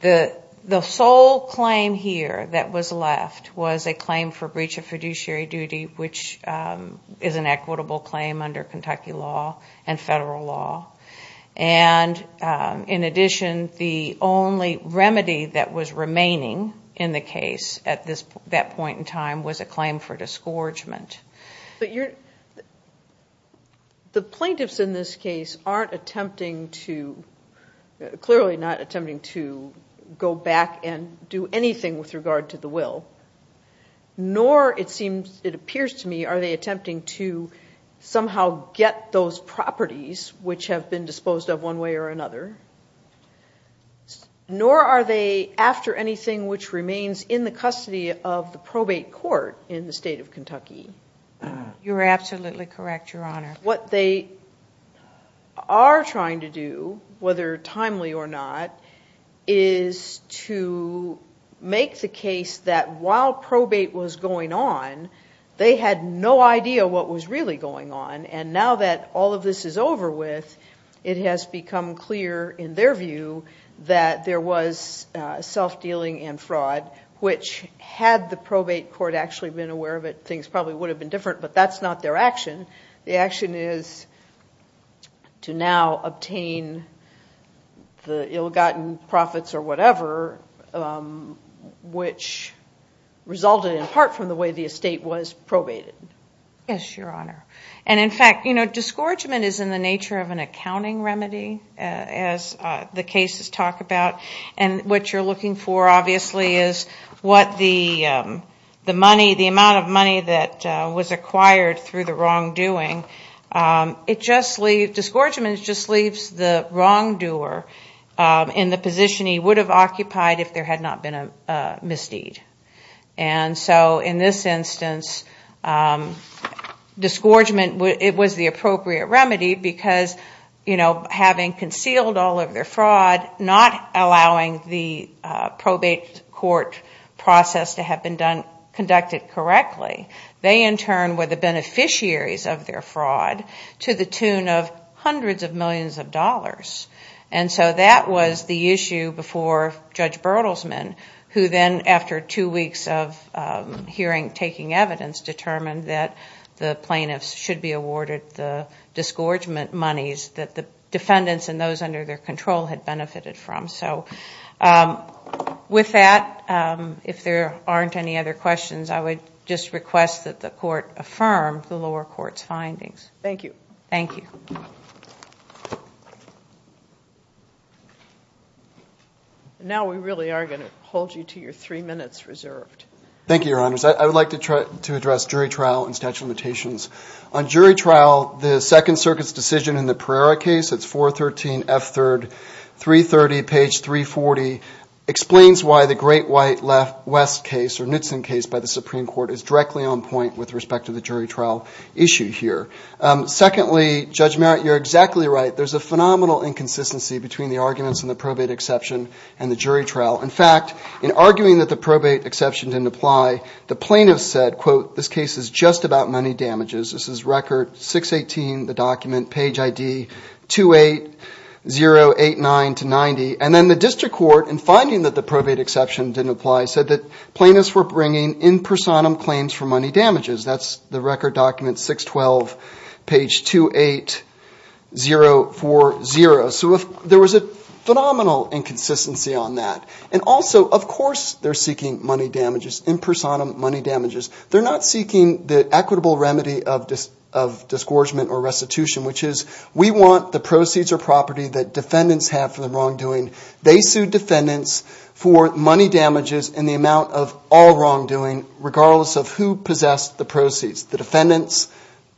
the the sole claim here that was left was a claim for breach of fiduciary duty which is an equitable claim under Kentucky law and federal law and in addition the only remedy that was remaining in the case at this that point in time was a claim for disgorgement but you're the plaintiffs in this case aren't attempting to clearly not attempting to go back and do anything with regard to the will nor it seems it those properties which have been disposed of one way or another nor are they after anything which remains in the custody of the probate court in the state of Kentucky you're absolutely correct your honor what they are trying to do whether timely or not is to make the case that while probate was going on they had no idea what was really going on and now that all of this is over with it has become clear in their view that there was self-dealing and fraud which had the probate court actually been aware of it things probably would have been different but that's not their action the action is to now obtain the ill-gotten profits or whatever which resulted in part from the way the estate was probated yes your honor and in fact you know disgorgement is in the nature of an accounting remedy as the cases talk about and what you're looking for obviously is what the the money the amount of money that was acquired through the wrongdoing it just leave disgorgement just leaves the wrongdoer in the position he would have occupied if there had not been a misdeed and so in this instance disgorgement it was the appropriate remedy because you know having concealed all of their fraud not allowing the probate court process to have been done conducted correctly they in turn were the beneficiaries of their fraud to the tune of hundreds of millions of dollars and so that was the hearing taking evidence determined that the plaintiffs should be awarded the disgorgement monies that the defendants and those under their control had benefited from so with that if there aren't any other questions I would just request that the court affirmed the lower court's findings thank you thank you now we really are going to hold you to your three minutes reserved thank you your honors I would like to try to address jury trial and statute of limitations on jury trial the Second Circuit's decision in the Pereira case it's 413 F 3rd 330 page 340 explains why the great white left-west case or Knutson case by the Supreme Court is directly on point with respect to the judgment you're exactly right there's a phenomenal inconsistency between the arguments in the probate exception and the jury trial in fact in arguing that the probate exception didn't apply the plaintiff said quote this case is just about money damages this is record 618 the document page ID 28089 to 90 and then the district court and finding that the probate exception didn't apply said that plaintiffs were bringing in personam claims for money damages that's record document 612 page 28040 so if there was a phenomenal inconsistency on that and also of course they're seeking money damages in personam money damages they're not seeking the equitable remedy of this of disgorgement or restitution which is we want the proceeds or property that defendants have for the wrongdoing they sued defendants for money damages in the amount of all wrongdoing regardless of who possessed the proceeds the defendants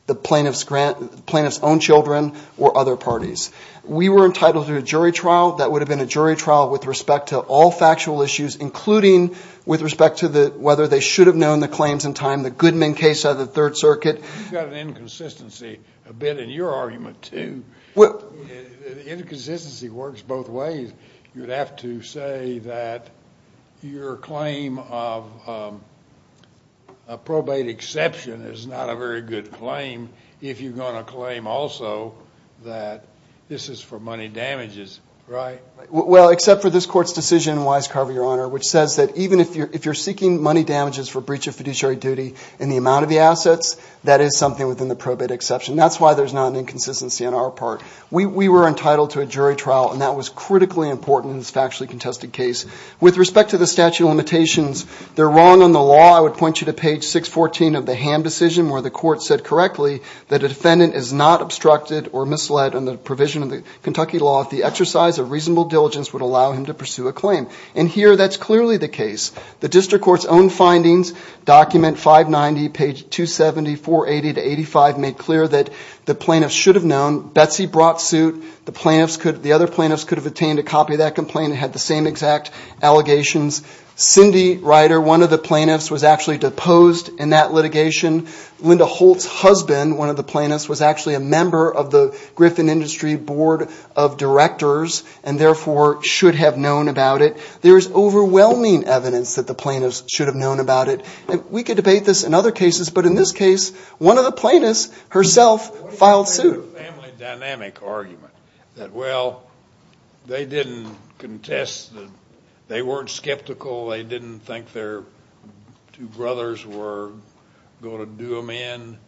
the plaintiffs grant plaintiffs own children or other parties we were entitled to a jury trial that would have been a jury trial with respect to all factual issues including with respect to the whether they should have known the claims in time the Goodman case of the Third Circuit inconsistency works both ways you'd have to say that your claim of a probate exception is not a very good claim if you're going to claim also that this is for money damages right well except for this court's decision wisecarver your honor which says that even if you're if you're seeking money damages for breach of fiduciary duty in the amount of the assets that is something within the probate exception that's why there's not an inconsistency on our part we were entitled to a jury trial and that was critically important in this factually contested case with respect to the statute of limitations they're wrong on the law I would point you to page 614 of the ham decision where the court said correctly that a defendant is not obstructed or misled on the provision of the Kentucky law if the exercise of reasonable diligence would allow him to pursue a claim and here that's clearly the case the district court's own findings document 590 page 270 480 to 85 made clear that the plaintiffs should have known Betsy brought suit the plaintiffs could the other plaintiffs could have obtained a copy of that complaint had the same exact allegations Cindy Ryder one of the plaintiffs was actually deposed in that litigation Linda Holtz husband one of the plaintiffs was actually a member of the Griffin Industry Board of Directors and therefore should have known about it there is overwhelming evidence that the plaintiffs should have known about it we could debate this in other cases but in this case one of the plaintiffs herself filed suit well they didn't contest they weren't skeptical they didn't think their two brothers were going to do them in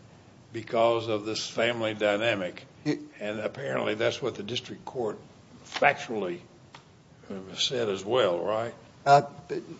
because of this family dynamic and apparently that's what the district court factually said as well right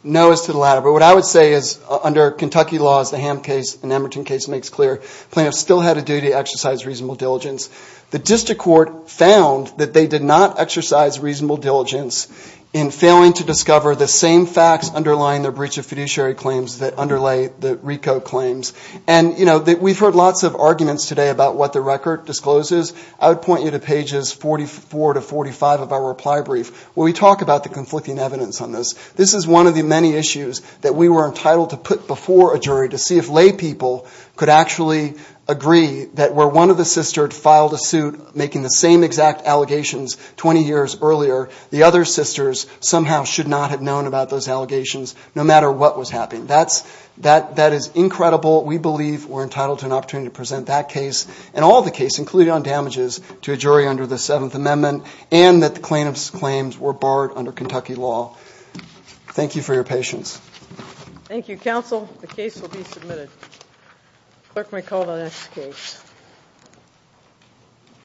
no as to the latter but what I would say is under Kentucky laws the ham case in Emerton case makes clear plan still had to do to exercise reasonable diligence the district court found that they did not exercise reasonable diligence in failing to discover the same facts underlying the breach of fiduciary claims that underlay the Rico claims and you know that we've heard lots of arguments today about what the record discloses I would point you to pages 44 to 45 of our reply brief we talk about the conflicting evidence on this this is one of the many issues that we were entitled to put before a jury to see if laypeople could actually agree that where one of the sister filed a suit making the same exact allegations 20 years earlier the other sisters somehow should not have known about those allegations no matter what was happening that's that that is incredible we believe we're entitled to an opportunity to present that case and all the case including on damages to a jury under the Seventh Amendment and that the plaintiffs claims were barred under Kentucky law thank you for your patience thank you counsel the case will be submitted clerk may call the next case